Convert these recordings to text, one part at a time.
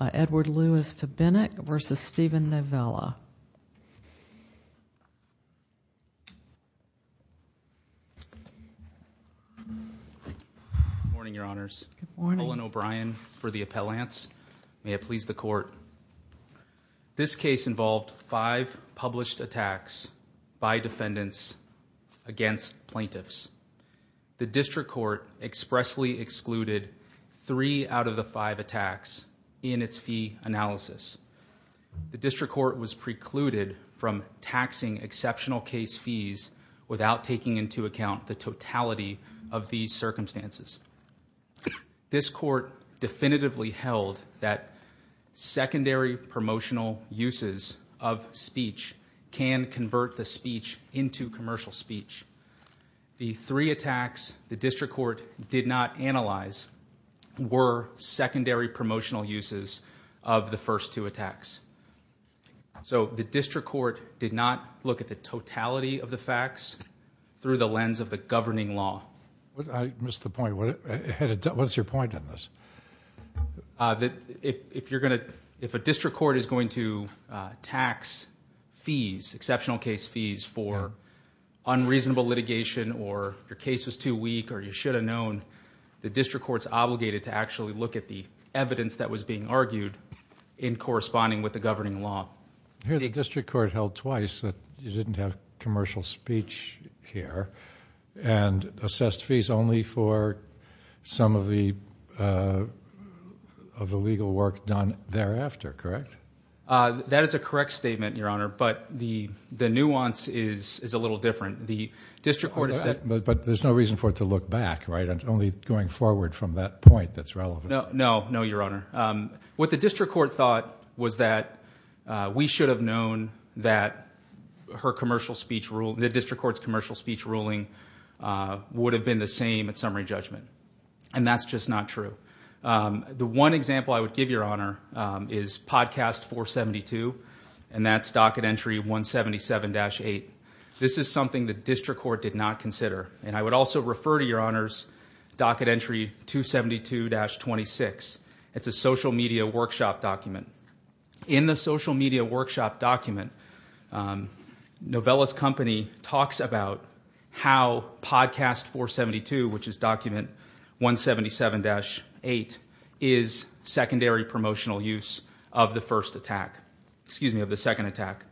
Edward Lewis Tobinick v. Steven Novella. Good morning, Your Honors. Colin O'Brien for the Appellants. May it please the Court. This case involved five published attacks by defendants against plaintiffs. The District Court expressly excluded three out of the five attacks in its fee analysis. The District Court was precluded from taxing exceptional case fees without taking into account the totality of these circumstances. This Court definitively held that secondary promotional uses of speech can convert the speech into commercial speech. The three attacks the District Court did not analyze were secondary promotional uses of the first two attacks. So the District Court did not look at the totality of the facts through the lens of the governing law. I missed the point. What's your point on this? If a District Court is going to tax fees, exceptional case fees, for unreasonable litigation or your case was too weak or you should have known, the District Court's obligated to actually look at the evidence that was being argued in corresponding with the governing law. I hear the District Court held twice that you didn't have commercial speech here and assessed fees only for some of the legal work done thereafter, correct? That is a correct statement, Your Honor, but the nuance is a little different. But there's no reason for it to look back, right? It's only going forward from that point that's relevant. No, Your Honor. What the District Court thought was that we should have known that the District Court's commercial speech ruling would have been the same at summary judgment. And that's just not true. The one example I would give, Your Honor, is podcast 472, and that's docket entry 177-8. This is something the District Court did not consider, and I would also refer to Your Honor's docket entry 272-26. It's a social media workshop document. In the social media workshop document, Novella's company talks about how podcast 472, which is document 177-8, is secondary promotional use of the second attack.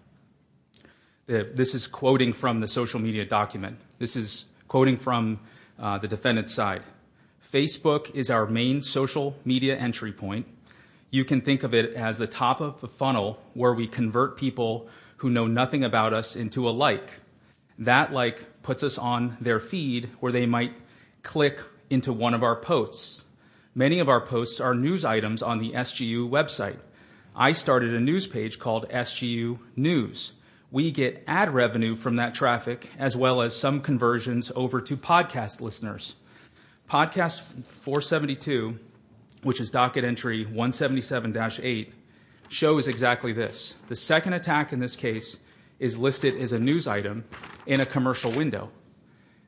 This is quoting from the social media document. This is quoting from the defendant's side. Facebook is our main social media entry point. You can think of it as the top of the funnel where we convert people who know nothing about us into a like. That like puts us on their feed where they might click into one of our posts. Many of our posts are news items on the SGU website. I started a news page called SGU News. We get ad revenue from that traffic as well as some conversions over to podcast listeners. Podcast 472, which is docket entry 177-8, shows exactly this. The second attack in this case is listed as a news item in a commercial window.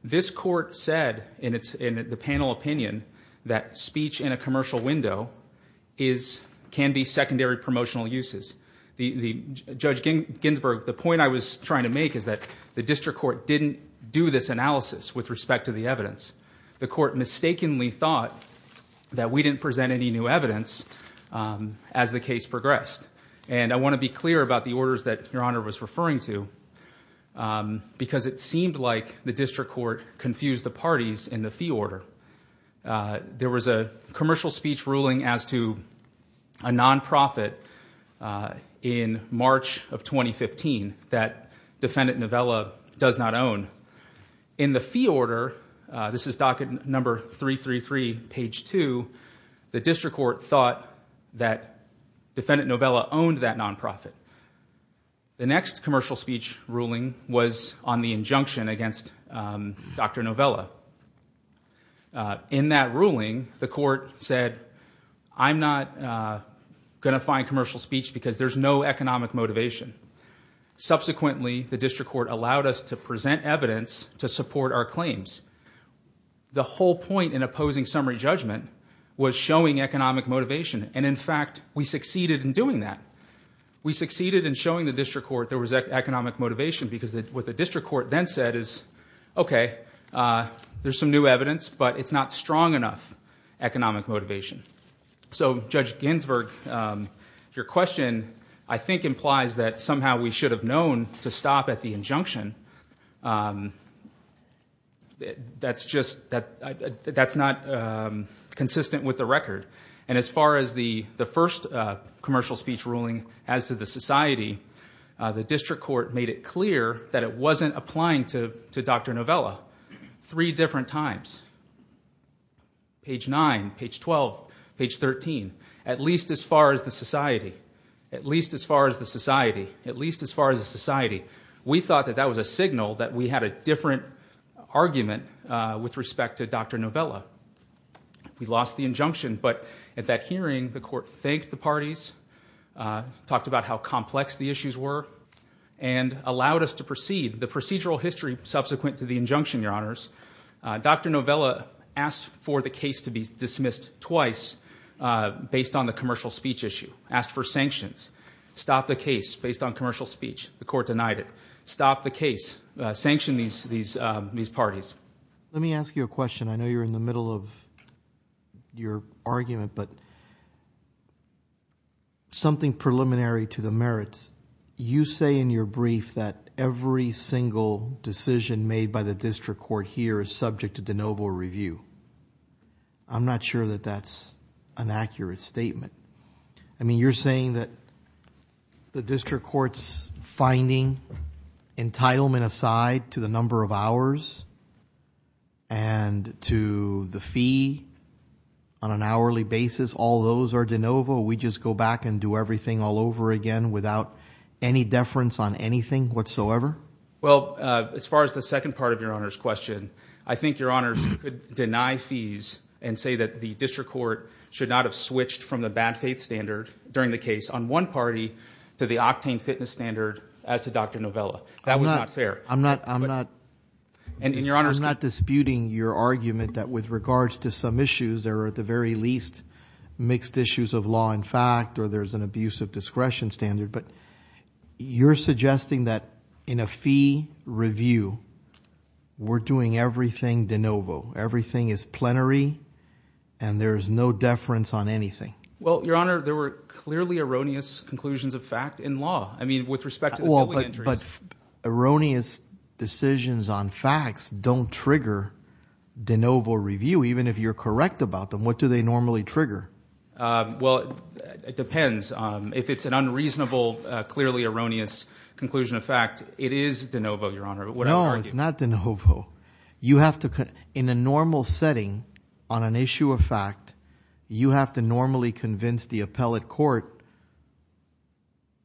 This court said in the panel opinion that speech in a commercial window can be secondary promotional uses. Judge Ginsburg, the point I was trying to make is that the district court didn't do this analysis with respect to the evidence. The court mistakenly thought that we didn't present any new evidence as the case progressed. I want to be clear about the orders that Your Honor was referring to because it seemed like the district court confused the parties in the fee order. There was a commercial speech ruling as to a non-profit in March of 2015 that defendant Novella does not own. In the fee order, this is docket number 333 page 2, the district court thought that defendant Novella owned that non-profit. The next commercial speech ruling was on the injunction against Dr. Novella. In that ruling, the court said, I'm not going to find commercial speech because there's no economic motivation. Subsequently, the district court allowed us to present evidence to support our claims. The whole point in opposing summary judgment was showing economic motivation, and in fact, we succeeded in doing that. We succeeded in showing the district court there was economic motivation because what the district court then said is, okay, there's some new evidence, but it's not strong enough economic motivation. Judge Ginsburg, your question, I think, implies that somehow we should have known to stop at the injunction. As far as the first commercial speech ruling as to the society, the district court made it clear that it wasn't applying to Dr. Novella. Three different times, page 9, page 12, page 13, at least as far as the society, at least as far as the society, at least as far as the society. We thought that that was a signal that we had a different argument with respect to Dr. Novella. We lost the injunction, but at that hearing, the court thanked the parties, talked about how complex the issues were, and allowed us to proceed. The procedural history subsequent to the injunction, your honors, Dr. Novella asked for the case to be dismissed twice based on the commercial speech issue. Asked for sanctions. Stop the case based on commercial speech. The court denied it. Stop the case. Sanction these parties. Let me ask you a question. I know you're in the middle of your argument, but something preliminary to the merits. You say in your brief that every single decision made by the district court here is subject to de novo review. I'm not sure that that's an accurate statement. I mean, you're saying that the district court's finding entitlement aside to the number of hours and to the fee on an hourly basis, all those are de novo? We just go back and do everything all over again without any deference on anything whatsoever? Well, as far as the second part of your honors question, I think your honors could deny fees and say that the district court should not have switched from the bad faith standard during the case on one party to the octane fitness standard as to Dr. Novella. That was not fair. I'm not disputing your argument that with regards to some issues, there are at the very least mixed issues of law and fact, or there's an abuse of discretion standard. But you're suggesting that in a fee review, we're doing everything de novo. Everything is plenary and there is no deference on anything. Well, your honor, there were clearly erroneous conclusions of fact in law. I mean, with respect to the injuries, erroneous decisions on facts don't trigger de novo review, even if you're correct about them. What do they normally trigger? Well, it depends. If it's an unreasonable, clearly erroneous conclusion of fact, it is de novo, your honor. No, it's not de novo. You have to, in a normal setting on an issue of fact, you have to normally convince the appellate court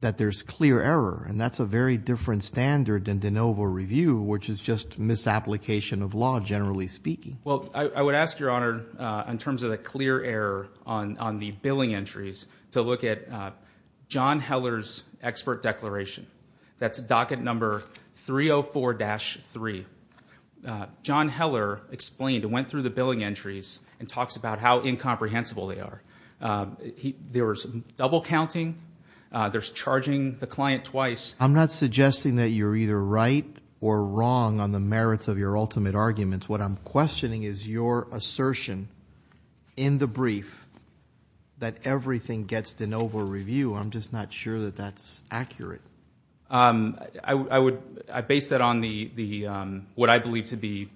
that there's clear error. And that's a very different standard than de novo review, which is just misapplication of law, generally speaking. Well, I would ask, your honor, in terms of the clear error on the billing entries, to look at John Heller's expert declaration. That's docket number 304-3. John Heller explained, went through the billing entries and talks about how incomprehensible they are. There was double counting. There's charging the client twice. I'm not suggesting that you're either right or wrong on the merits of your ultimate arguments. What I'm questioning is your assertion in the brief that everything gets de novo review. I'm just not sure that that's accurate. I base that on what I believe to be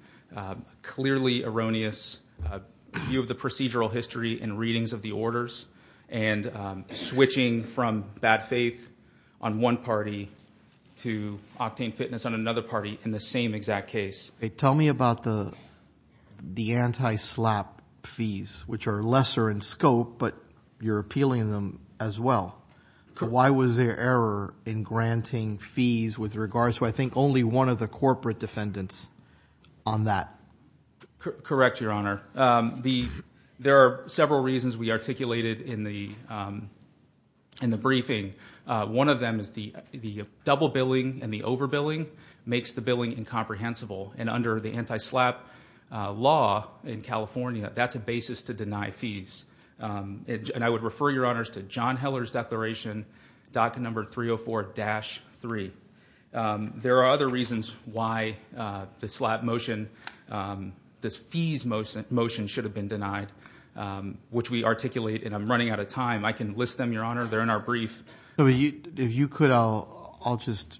clearly erroneous view of the procedural history and readings of the orders and switching from bad faith on one party to octane fitness on another party in the same exact case. Tell me about the anti-slap fees, which are lesser in scope, but you're appealing them as well. Why was there error in granting fees with regards to, I think, only one of the corporate defendants on that? Correct, your honor. There are several reasons we articulated in the briefing. One of them is the double billing and the over billing makes the billing incomprehensible. Under the anti-slap law in California, that's a basis to deny fees. I would refer your honors to John Heller's declaration, docket number 304-3. There are other reasons why the slap motion, this fees motion should have been denied, which we articulate. I'm running out of time. I can list them, your honor. They're in our brief. If you could, I'll just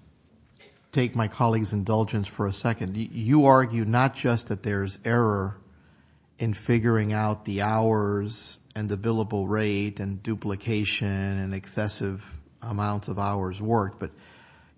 take my colleague's indulgence for a second. You argue not just that there's error in figuring out the hours and the billable rate and duplication and excessive amounts of hours worked, but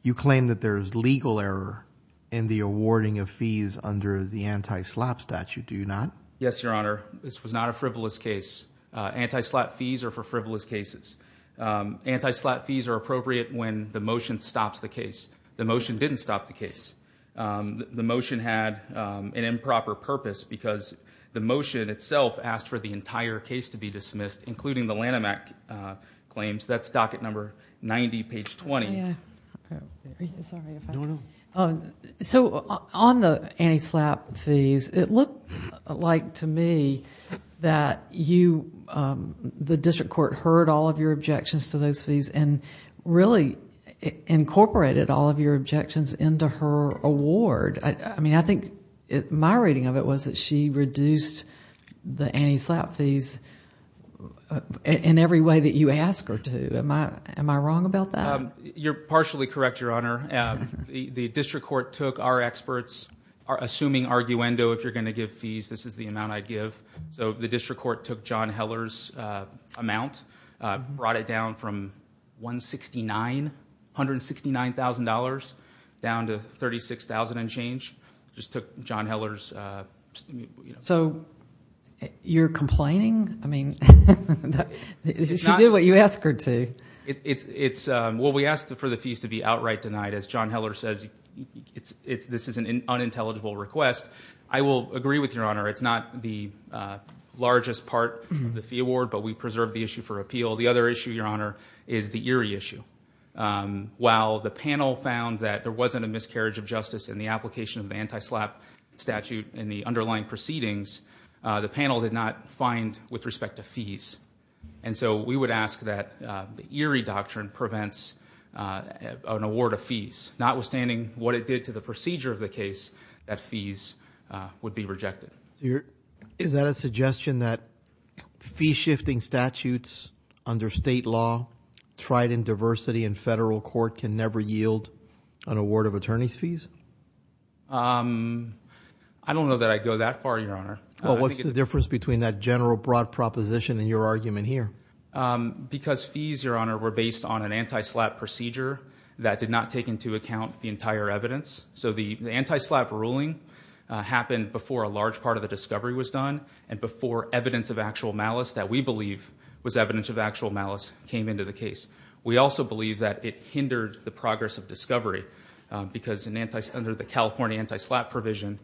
you claim that there's legal error in the awarding of fees under the anti-slap statute, do you not? Yes, your honor. This was not a frivolous case. Anti-slap fees are for frivolous cases. Anti-slap fees are appropriate when the motion stops the case. The motion didn't stop the case. The motion had an improper purpose because the motion itself asked for the entire case to be dismissed, including the Lanham Act claims. That's docket number 90, page 20. On the anti-slap fees, it looked like to me that the district court heard all of your objections to those fees and really incorporated all of your objections into her award. I think my reading of it was that she reduced the anti-slap fees in every way that you ask her to. Am I wrong about that? You're partially correct, your honor. The district court took our experts, assuming arguendo, if you're going to give fees, this is the amount I'd give. The district court took John Heller's amount, brought it down from $169,000 down to $36,000 and change. Just took John Heller's— So you're complaining? I mean, she did what you asked her to. Well, we asked for the fees to be outright denied. As John Heller says, this is an unintelligible request. I will agree with your honor. It's not the largest part of the fee award, but we preserved the issue for appeal. The other issue, your honor, is the Erie issue. While the panel found that there wasn't a miscarriage of justice in the application of the anti-slap statute in the underlying proceedings, the panel did not find with respect to fees. And so we would ask that the Erie doctrine prevents an award of fees, notwithstanding what it did to the procedure of the case that fees would be rejected. Is that a suggestion that fee-shifting statutes under state law, tried in diversity in federal court, can never yield an award of attorney's fees? I don't know that I'd go that far, your honor. Well, what's the difference between that general broad proposition and your argument here? Because fees, your honor, were based on an anti-slap procedure that did not take into account the entire evidence. So the anti-slap ruling happened before a large part of the discovery was done and before evidence of actual malice that we believe was evidence of actual malice came into the case. We also believe that it hindered the progress of discovery, because under the California anti-slap provision,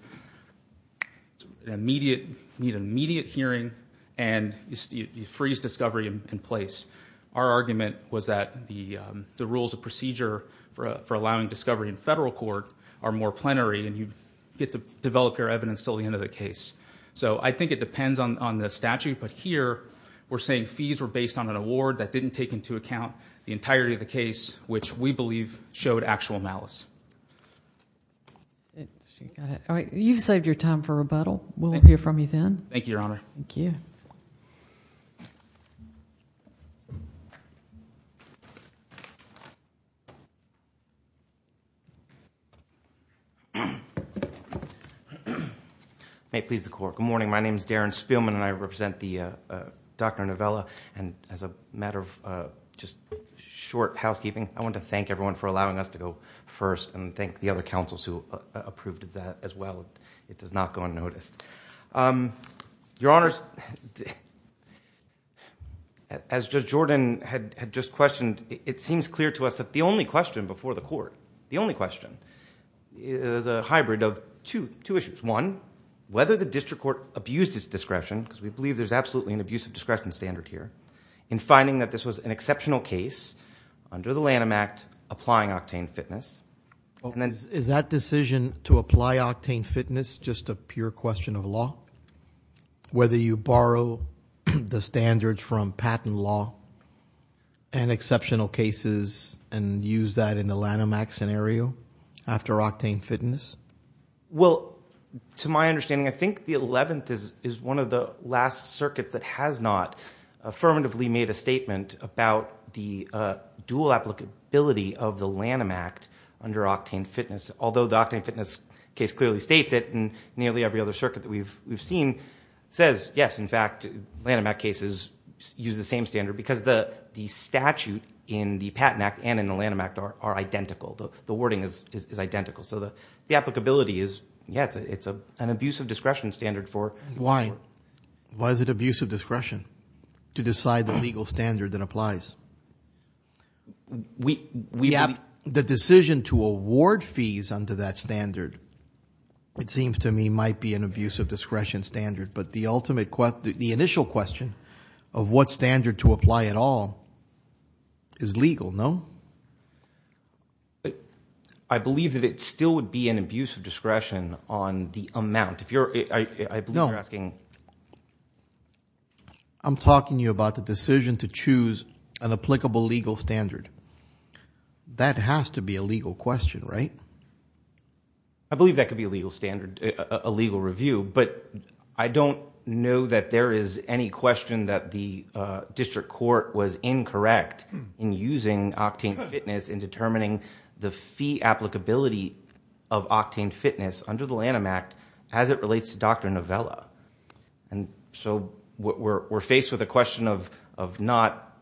you need an immediate hearing and you freeze discovery in place. Our argument was that the rules of procedure for allowing discovery in federal court are more plenary and you get to develop your evidence until the end of the case. So I think it depends on the statute, but here we're saying fees were based on an award that didn't take into account the entirety of the case, which we believe showed actual malice. You've saved your time for rebuttal. We'll hear from you then. Thank you, your honor. Thank you. May it please the court. Good morning. My name is Darren Spielman and I represent the Dr. Novella. And as a matter of just short housekeeping, I want to thank everyone for allowing us to go first and thank the other counsels who approved of that as well. It does not go unnoticed. Your honors, as Judge Jordan had just questioned, it seems clear to us that the only question before the court, the only question, is a hybrid of two issues. One, whether the district court abused its discretion, because we believe there's absolutely an abuse of discretion standard here, in finding that this was an exceptional case under the Lanham Act applying octane fitness. Is that decision to apply octane fitness just a pure question of law? Whether you borrow the standards from patent law and exceptional cases and use that in the Lanham Act scenario after octane fitness? Well, to my understanding, I think the 11th is one of the last circuits that has not affirmatively made a statement about the dual applicability of the Lanham Act under octane fitness. Although the octane fitness case clearly states it and nearly every other circuit that we've seen says, yes, in fact, Lanham Act cases use the same standard because the statute in the patent act and in the Lanham Act are identical. The wording is identical. So the applicability is, yes, it's an abuse of discretion standard. Why? Why is it abuse of discretion to decide the legal standard that applies? The decision to award fees under that standard, it seems to me, might be an abuse of discretion standard. But the ultimate question, the initial question of what standard to apply at all is legal, no? But I believe that it still would be an abuse of discretion on the amount. If you're I know you're asking. I'm talking to you about the decision to choose an applicable legal standard. That has to be a legal question, right? I believe that could be a legal standard, a legal review. But I don't know that there is any question that the district court was incorrect in using octane fitness in determining the fee applicability of octane fitness under the Lanham Act as it relates to Dr. Novella. And so we're faced with a question of not,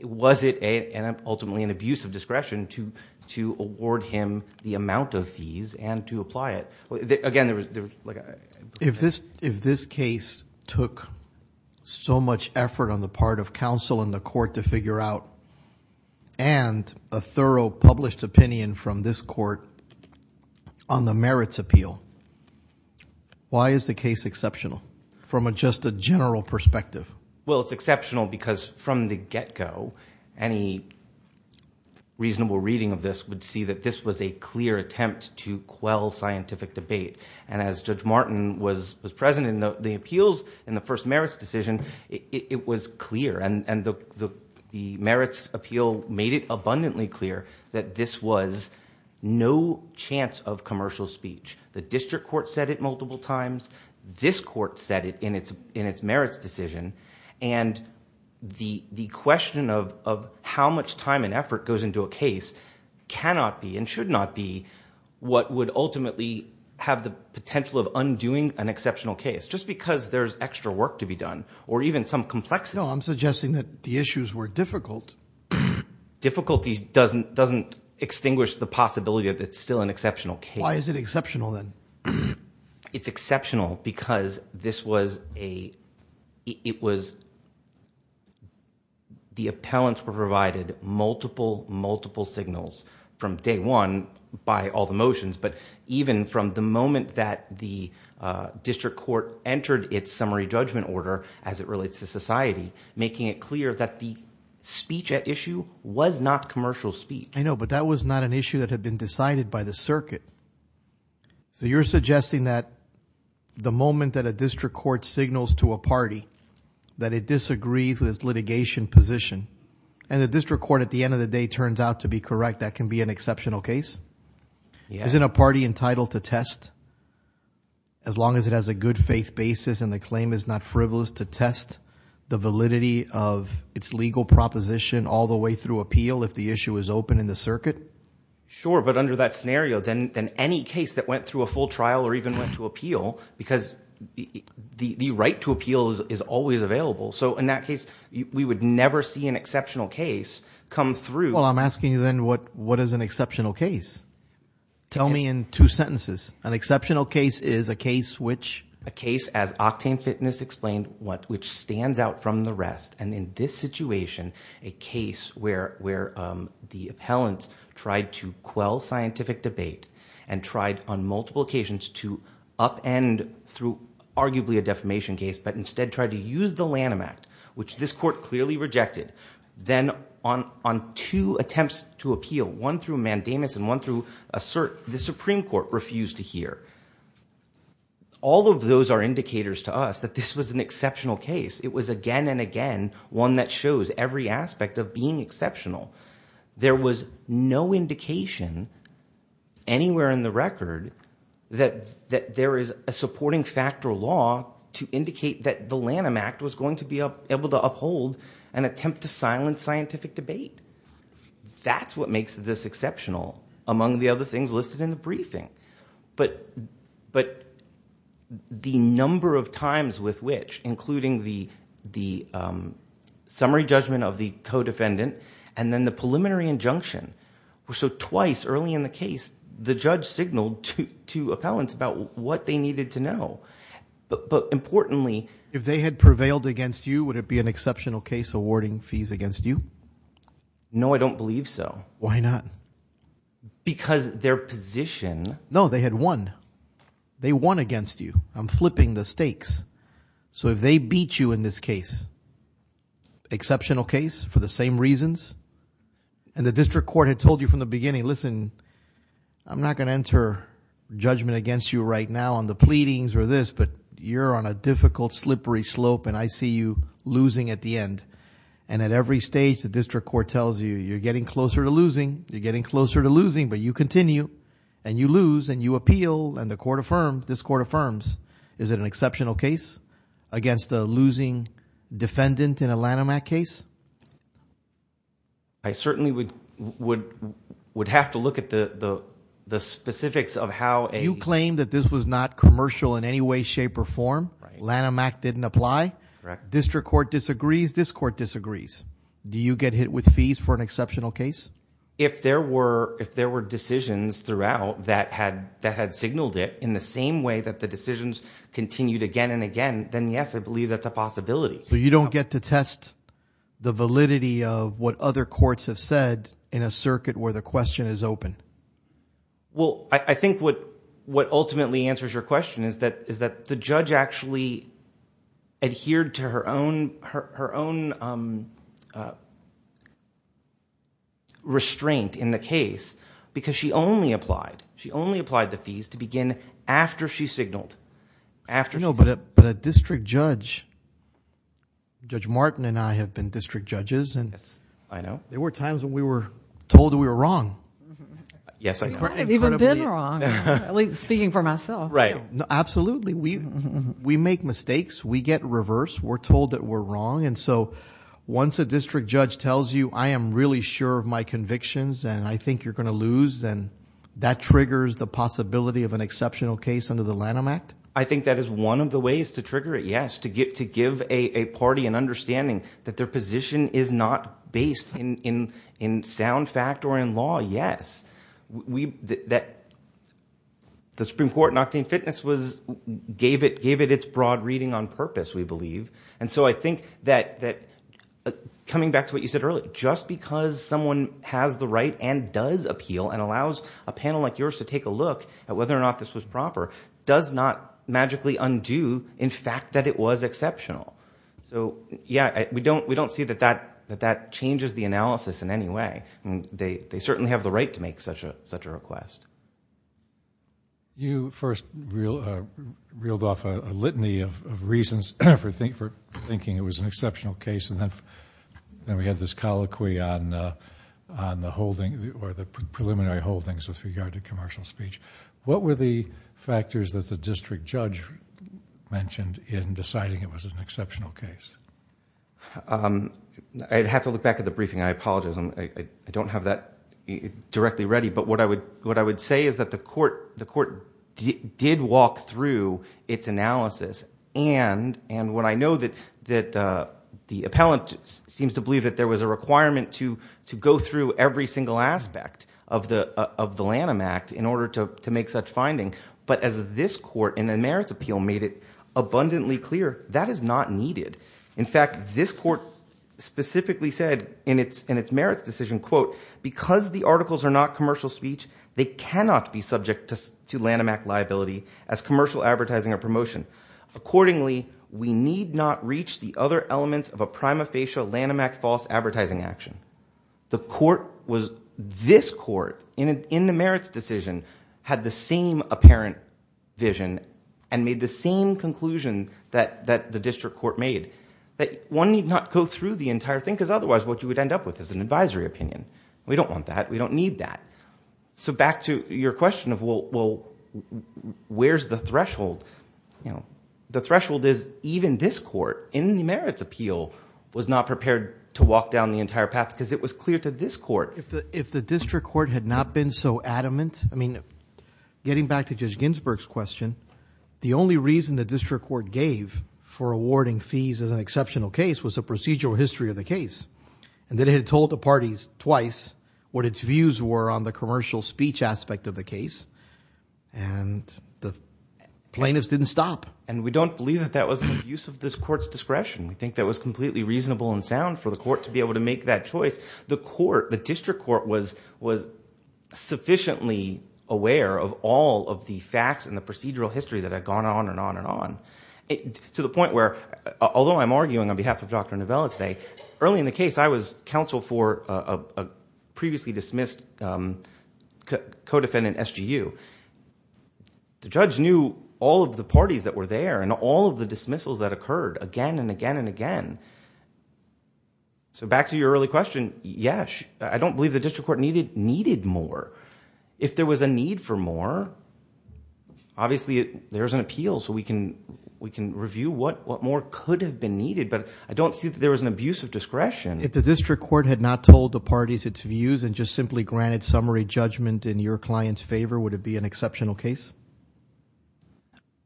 was it ultimately an abuse of discretion to award him the amount of fees and to apply it? If this case took so much effort on the part of counsel in the court to figure out and a thorough published opinion from this court on the merits appeal, why is the case exceptional from just a general perspective? Well, it's exceptional because from the get-go, any reasonable reading of this would see that this was a clear attempt to quell scientific debate. And as Judge Martin was present in the appeals in the first merits decision, it was clear. And the merits appeal made it abundantly clear that this was no chance of commercial speech. The district court said it multiple times. This court said it in its merits decision. And the question of how much time and effort goes into a case cannot be and should not be what would ultimately have the potential of undoing an exceptional case just because there's extra work to be done or even some complexity. No, I'm suggesting that the issues were difficult. Difficulty doesn't extinguish the possibility that it's still an exceptional case. Why is it exceptional then? It's exceptional because this was a – it was – the appellants were provided multiple, multiple signals from day one by all the motions. But even from the moment that the district court entered its summary judgment order as it relates to society, making it clear that the speech at issue was not commercial speech. I know, but that was not an issue that had been decided by the circuit. So you're suggesting that the moment that a district court signals to a party that it disagrees with its litigation position and the district court at the end of the day turns out to be correct, that can be an exceptional case? Yes. Isn't a party entitled to test as long as it has a good faith basis and the claim is not frivolous to test the validity of its legal proposition all the way through appeal if the issue is open in the circuit? Sure, but under that scenario, then any case that went through a full trial or even went to appeal because the right to appeal is always available. So in that case, we would never see an exceptional case come through. Well, I'm asking you then what is an exceptional case? Tell me in two sentences. An exceptional case is a case which? A case, as Octane Fitness explained, which stands out from the rest. And in this situation, a case where the appellants tried to quell scientific debate and tried on multiple occasions to upend through arguably a defamation case but instead tried to use the Lanham Act, which this court clearly rejected. Then on two attempts to appeal, one through Mandamus and one through Assert, the Supreme Court refused to hear. All of those are indicators to us that this was an exceptional case. It was again and again one that shows every aspect of being exceptional. There was no indication anywhere in the record that there is a supporting factor law to indicate that the Lanham Act was going to be able to uphold an attempt to silence scientific debate. That's what makes this exceptional among the other things listed in the briefing. But the number of times with which, including the summary judgment of the co-defendant and then the preliminary injunction were so twice early in the case, the judge signaled to appellants about what they needed to know. But importantly… If they had prevailed against you, would it be an exceptional case awarding fees against you? No, I don't believe so. Why not? Because their position… No, they had won. They won against you. I'm flipping the stakes. So if they beat you in this case, exceptional case for the same reasons, and the district court had told you from the beginning, listen, I'm not going to enter judgment against you right now on the pleadings or this, but you're on a difficult, slippery slope and I see you losing at the end. And at every stage, the district court tells you you're getting closer to losing, you're getting closer to losing, but you continue and you lose and you appeal and the court affirms, this court affirms. Is it an exceptional case against a losing defendant in a Lanham Act case? I certainly would have to look at the specifics of how a… You claim that this was not commercial in any way, shape, or form. Lanham Act didn't apply. Correct. District court disagrees, this court disagrees. Do you get hit with fees for an exceptional case? If there were decisions throughout that had signaled it in the same way that the decisions continued again and again, then yes, I believe that's a possibility. So you don't get to test the validity of what other courts have said in a circuit where the question is open? Well, I think what ultimately answers your question is that the judge actually adhered to her own restraint in the case because she only applied. She only applied the fees to begin after she signaled. But a district judge, Judge Martin and I have been district judges. Yes, I know. There were times when we were told that we were wrong. Yes, I know. I haven't even been wrong, at least speaking for myself. Right. Absolutely. We make mistakes. We get reversed. We're told that we're wrong. Once a district judge tells you, I am really sure of my convictions and I think you're going to lose, then that triggers the possibility of an exceptional case under the Lanham Act? I think that is one of the ways to trigger it, yes, to give a party an understanding that their position is not based in sound fact or in law, yes. The Supreme Court in Octane Fitness gave it its broad reading on purpose, we believe. And so I think that coming back to what you said earlier, just because someone has the right and does appeal and allows a panel like yours to take a look at whether or not this was proper does not magically undo in fact that it was exceptional. So, yes, we don't see that that changes the analysis in any way. They certainly have the right to make such a request. You first reeled off a litany of reasons for thinking it was an exceptional case and then we had this colloquy on the preliminary holdings with regard to commercial speech. What were the factors that the district judge mentioned in deciding it was an exceptional case? I'd have to look back at the briefing. I apologize. I don't have that directly ready, but what I would say is that the court did walk through its analysis. And what I know that the appellant seems to believe that there was a requirement to go through every single aspect of the Lanham Act in order to make such finding. But as this court in the merits appeal made it abundantly clear, that is not needed. In fact, this court specifically said in its merits decision, quote, because the articles are not commercial speech, they cannot be subject to Lanham Act liability as commercial advertising or promotion. Accordingly, we need not reach the other elements of a prima facie Lanham Act false advertising action. This court in the merits decision had the same apparent vision and made the same conclusion that the district court made. That one need not go through the entire thing because otherwise what you would end up with is an advisory opinion. We don't want that. We don't need that. So back to your question of, well, where's the threshold? The threshold is even this court in the merits appeal was not prepared to walk down the entire path because it was clear to this court. If the district court had not been so adamant, I mean getting back to Judge Ginsburg's question, the only reason the district court gave for awarding fees as an exceptional case was the procedural history of the case. And then it had told the parties twice what its views were on the commercial speech aspect of the case. And the plaintiffs didn't stop. And we don't believe that that was an abuse of this court's discretion. We think that was completely reasonable and sound for the court to be able to make that choice. The court, the district court was sufficiently aware of all of the facts and the procedural history that had gone on and on and on to the point where, although I'm arguing on behalf of Dr. Novella today. Early in the case, I was counsel for a previously dismissed co-defendant, SGU. The judge knew all of the parties that were there and all of the dismissals that occurred again and again and again. So back to your early question, yes, I don't believe the district court needed more. If there was a need for more, obviously there's an appeal so we can review what more could have been needed. But I don't see that there was an abuse of discretion. If the district court had not told the parties its views and just simply granted summary judgment in your client's favor, would it be an exceptional case?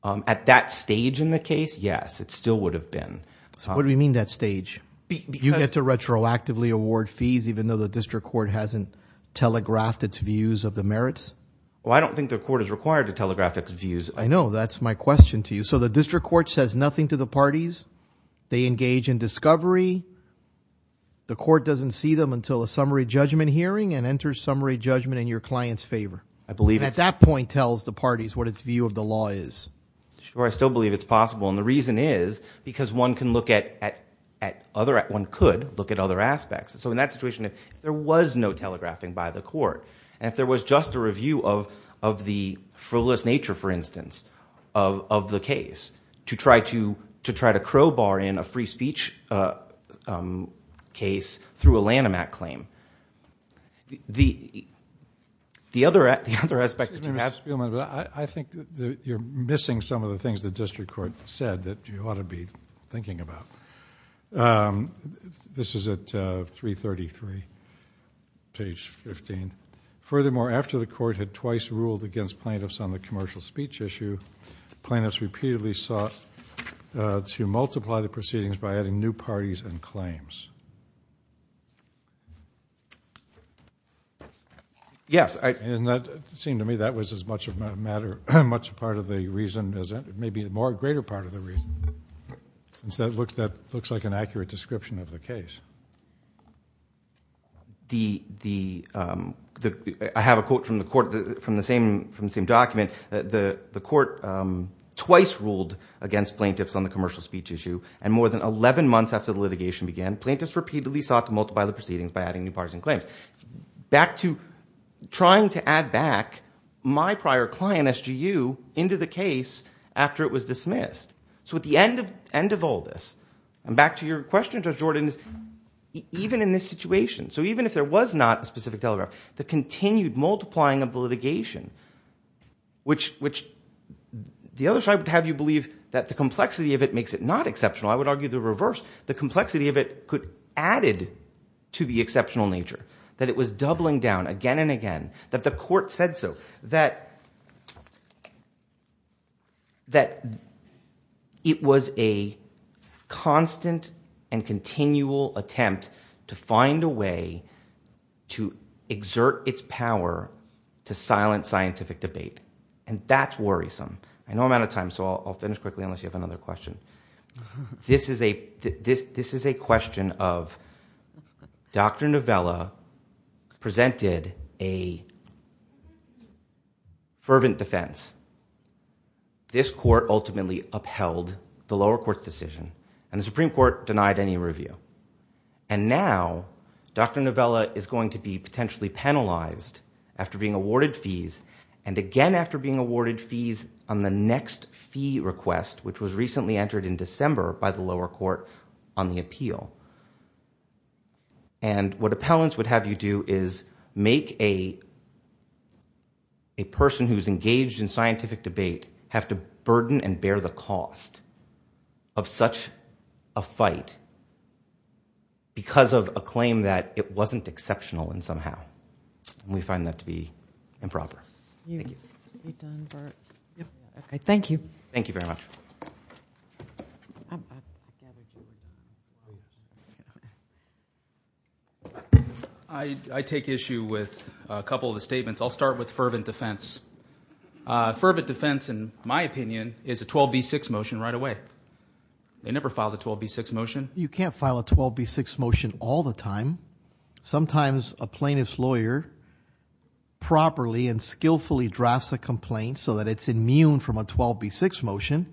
At that stage in the case, yes, it still would have been. What do you mean that stage? You get to retroactively award fees even though the district court hasn't telegraphed its views of the merits. Well, I don't think the court is required to telegraph its views. I know. That's my question to you. So the district court says nothing to the parties. They engage in discovery. The court doesn't see them until a summary judgment hearing and enters summary judgment in your client's favor. I believe it's – And at that point tells the parties what its view of the law is. Sure, I still believe it's possible, and the reason is because one can look at other – one could look at other aspects. So in that situation, if there was no telegraphing by the court, and if there was just a review of the frivolous nature, for instance, of the case, to try to crowbar in a free speech case through a Lanham Act claim, the other aspect – Mr. Spielman, I think you're missing some of the things the district court said that you ought to be thinking about. This is at 333, page 15. Furthermore, after the court had twice ruled against plaintiffs on the commercial speech issue, plaintiffs repeatedly sought to multiply the proceedings by adding new parties and claims. Yes. And that seemed to me that was as much a matter – much a part of the reason as – maybe a more greater part of the reason, since that looks like an accurate description of the case. The – I have a quote from the court from the same document. The court twice ruled against plaintiffs on the commercial speech issue, and more than 11 months after the litigation began, plaintiffs repeatedly sought to multiply the proceedings by adding new parties and claims. Back to trying to add back my prior client, SGU, into the case after it was dismissed. So at the end of all this, and back to your question, Judge Jordan, is even in this situation, so even if there was not a specific telegraph, the continued multiplying of the litigation, which the other side would have you believe that the complexity of it makes it not exceptional. I would argue the reverse. The complexity of it added to the exceptional nature, that it was doubling down again and again, that the court said so, that it was a constant and continual attempt to find a way to exert its power to silence scientific debate. And that's worrisome. I know I'm out of time, so I'll finish quickly unless you have another question. This is a question of Dr. Novella presented a fervent defense. This court ultimately upheld the lower court's decision, and the Supreme Court denied any review. And now Dr. Novella is going to be potentially penalized after being awarded fees, and again after being awarded fees on the next fee request, which was recently entered in December by the lower court on the appeal. And what appellants would have you do is make a person who's engaged in scientific debate have to burden and bear the cost of such a fight, because of a claim that it wasn't exceptional in some how. We find that to be improper. Thank you. Thank you very much. I take issue with a couple of the statements. I'll start with fervent defense. Fervent defense, in my opinion, is a 12B6 motion right away. They never filed a 12B6 motion. You can't file a 12B6 motion all the time. Sometimes a plaintiff's lawyer properly and skillfully drafts a complaint so that it's immune from a 12B6 motion,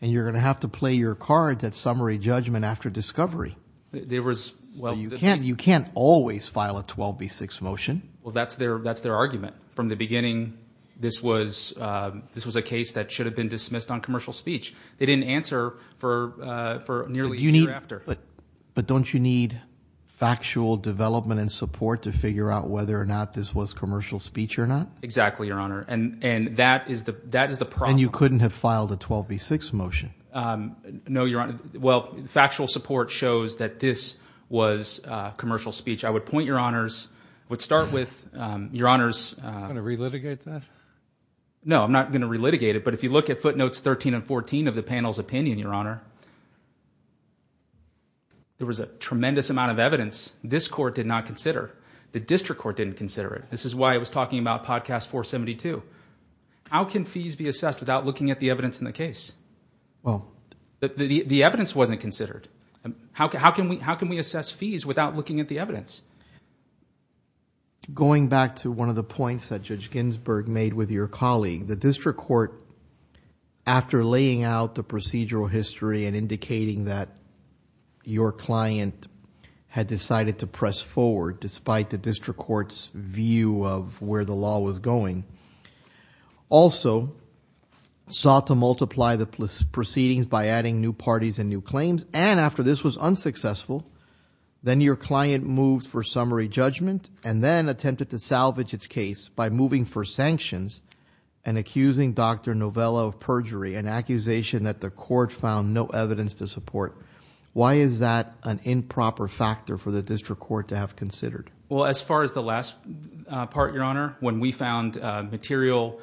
and you're going to have to play your cards at summary judgment after discovery. You can't always file a 12B6 motion. Well, that's their argument. From the beginning, this was a case that should have been dismissed on commercial speech. They didn't answer for nearly a year after. But don't you need factual development and support to figure out whether or not this was commercial speech or not? Exactly, Your Honor, and that is the problem. And you couldn't have filed a 12B6 motion? No, Your Honor. Well, factual support shows that this was commercial speech. I would point Your Honors, I would start with Your Honors. Are you going to relitigate that? No, I'm not going to relitigate it. But if you look at footnotes 13 and 14 of the panel's opinion, Your Honor, there was a tremendous amount of evidence this court did not consider. The district court didn't consider it. This is why I was talking about Podcast 472. How can fees be assessed without looking at the evidence in the case? The evidence wasn't considered. How can we assess fees without looking at the evidence? Going back to one of the points that Judge Ginsburg made with your colleague, the district court, after laying out the procedural history and indicating that your client had decided to press forward, despite the district court's view of where the law was going, also sought to multiply the proceedings by adding new parties and new claims, and after this was unsuccessful, then your client moved for summary judgment and then attempted to salvage its case by moving for sanctions and accusing Dr. Novella of perjury, an accusation that the court found no evidence to support. Why is that an improper factor for the district court to have considered? Well, as far as the last part, Your Honor, when we found material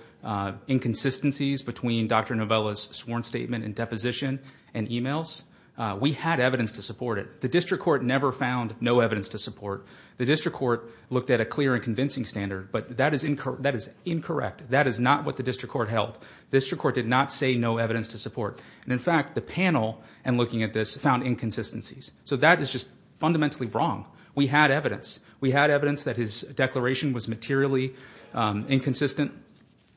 inconsistencies between Dr. Novella's sworn statement and deposition and emails, we had evidence to support it. The district court never found no evidence to support. The district court looked at a clear and convincing standard, but that is incorrect. That is not what the district court held. The district court did not say no evidence to support. And in fact, the panel, in looking at this, found inconsistencies. So that is just fundamentally wrong. We had evidence. We had evidence that his declaration was materially inconsistent,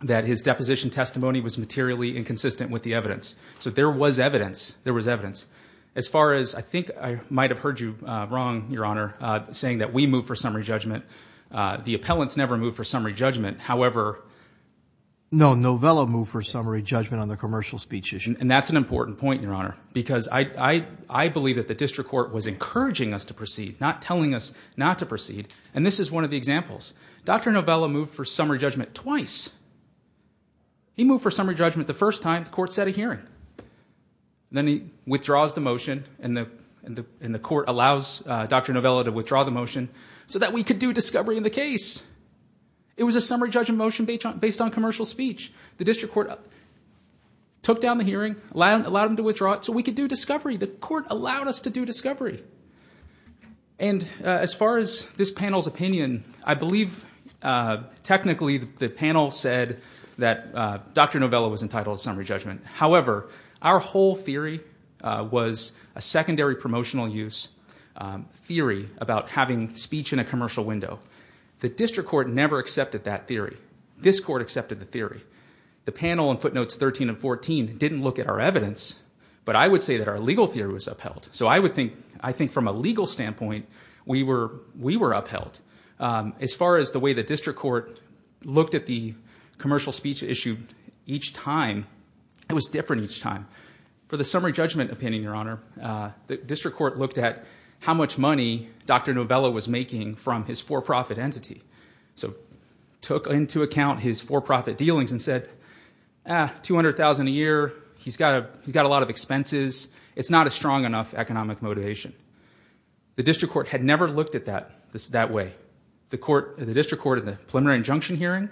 that his deposition testimony was materially inconsistent with the evidence. So there was evidence. There was evidence. As far as, I think I might have heard you wrong, Your Honor, saying that we moved for summary judgment. The appellants never moved for summary judgment. However... No, Novella moved for summary judgment on the commercial speech issue. And that's an important point, Your Honor, because I believe that the district court was encouraging us to proceed, not telling us not to proceed. And this is one of the examples. Dr. Novella moved for summary judgment twice. He moved for summary judgment the first time. The court set a hearing. Then he withdraws the motion, and the court allows Dr. Novella to withdraw the motion so that we could do discovery in the case. It was a summary judgment motion based on commercial speech. The district court took down the hearing, allowed him to withdraw it, so we could do discovery. The court allowed us to do discovery. And as far as this panel's opinion, I believe technically the panel said that Dr. Novella was entitled to summary judgment. However, our whole theory was a secondary promotional use theory about having speech in a commercial window. The district court never accepted that theory. This court accepted the theory. The panel in footnotes 13 and 14 didn't look at our evidence, but I would say that our legal theory was upheld. So I think from a legal standpoint, we were upheld. As far as the way the district court looked at the commercial speech issued each time, it was different each time. For the summary judgment opinion, Your Honor, the district court looked at how much money Dr. Novella was making from his for-profit entity, so took into account his for-profit dealings and said, ah, $200,000 a year, he's got a lot of expenses, it's not a strong enough economic motivation. The district court had never looked at that that way. The district court in the preliminary injunction hearing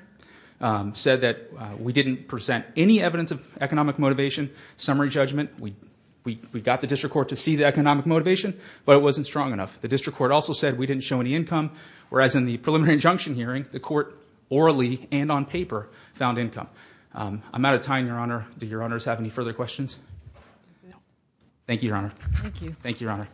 said that we didn't present any evidence of economic motivation, summary judgment. We got the district court to see the economic motivation, but it wasn't strong enough. The district court also said we didn't show any income, whereas in the preliminary injunction hearing, the court orally and on paper found income. I'm out of time, Your Honor. Do Your Honors have any further questions? No. Thank you, Your Honor. Thank you. Thank you, Your Honor.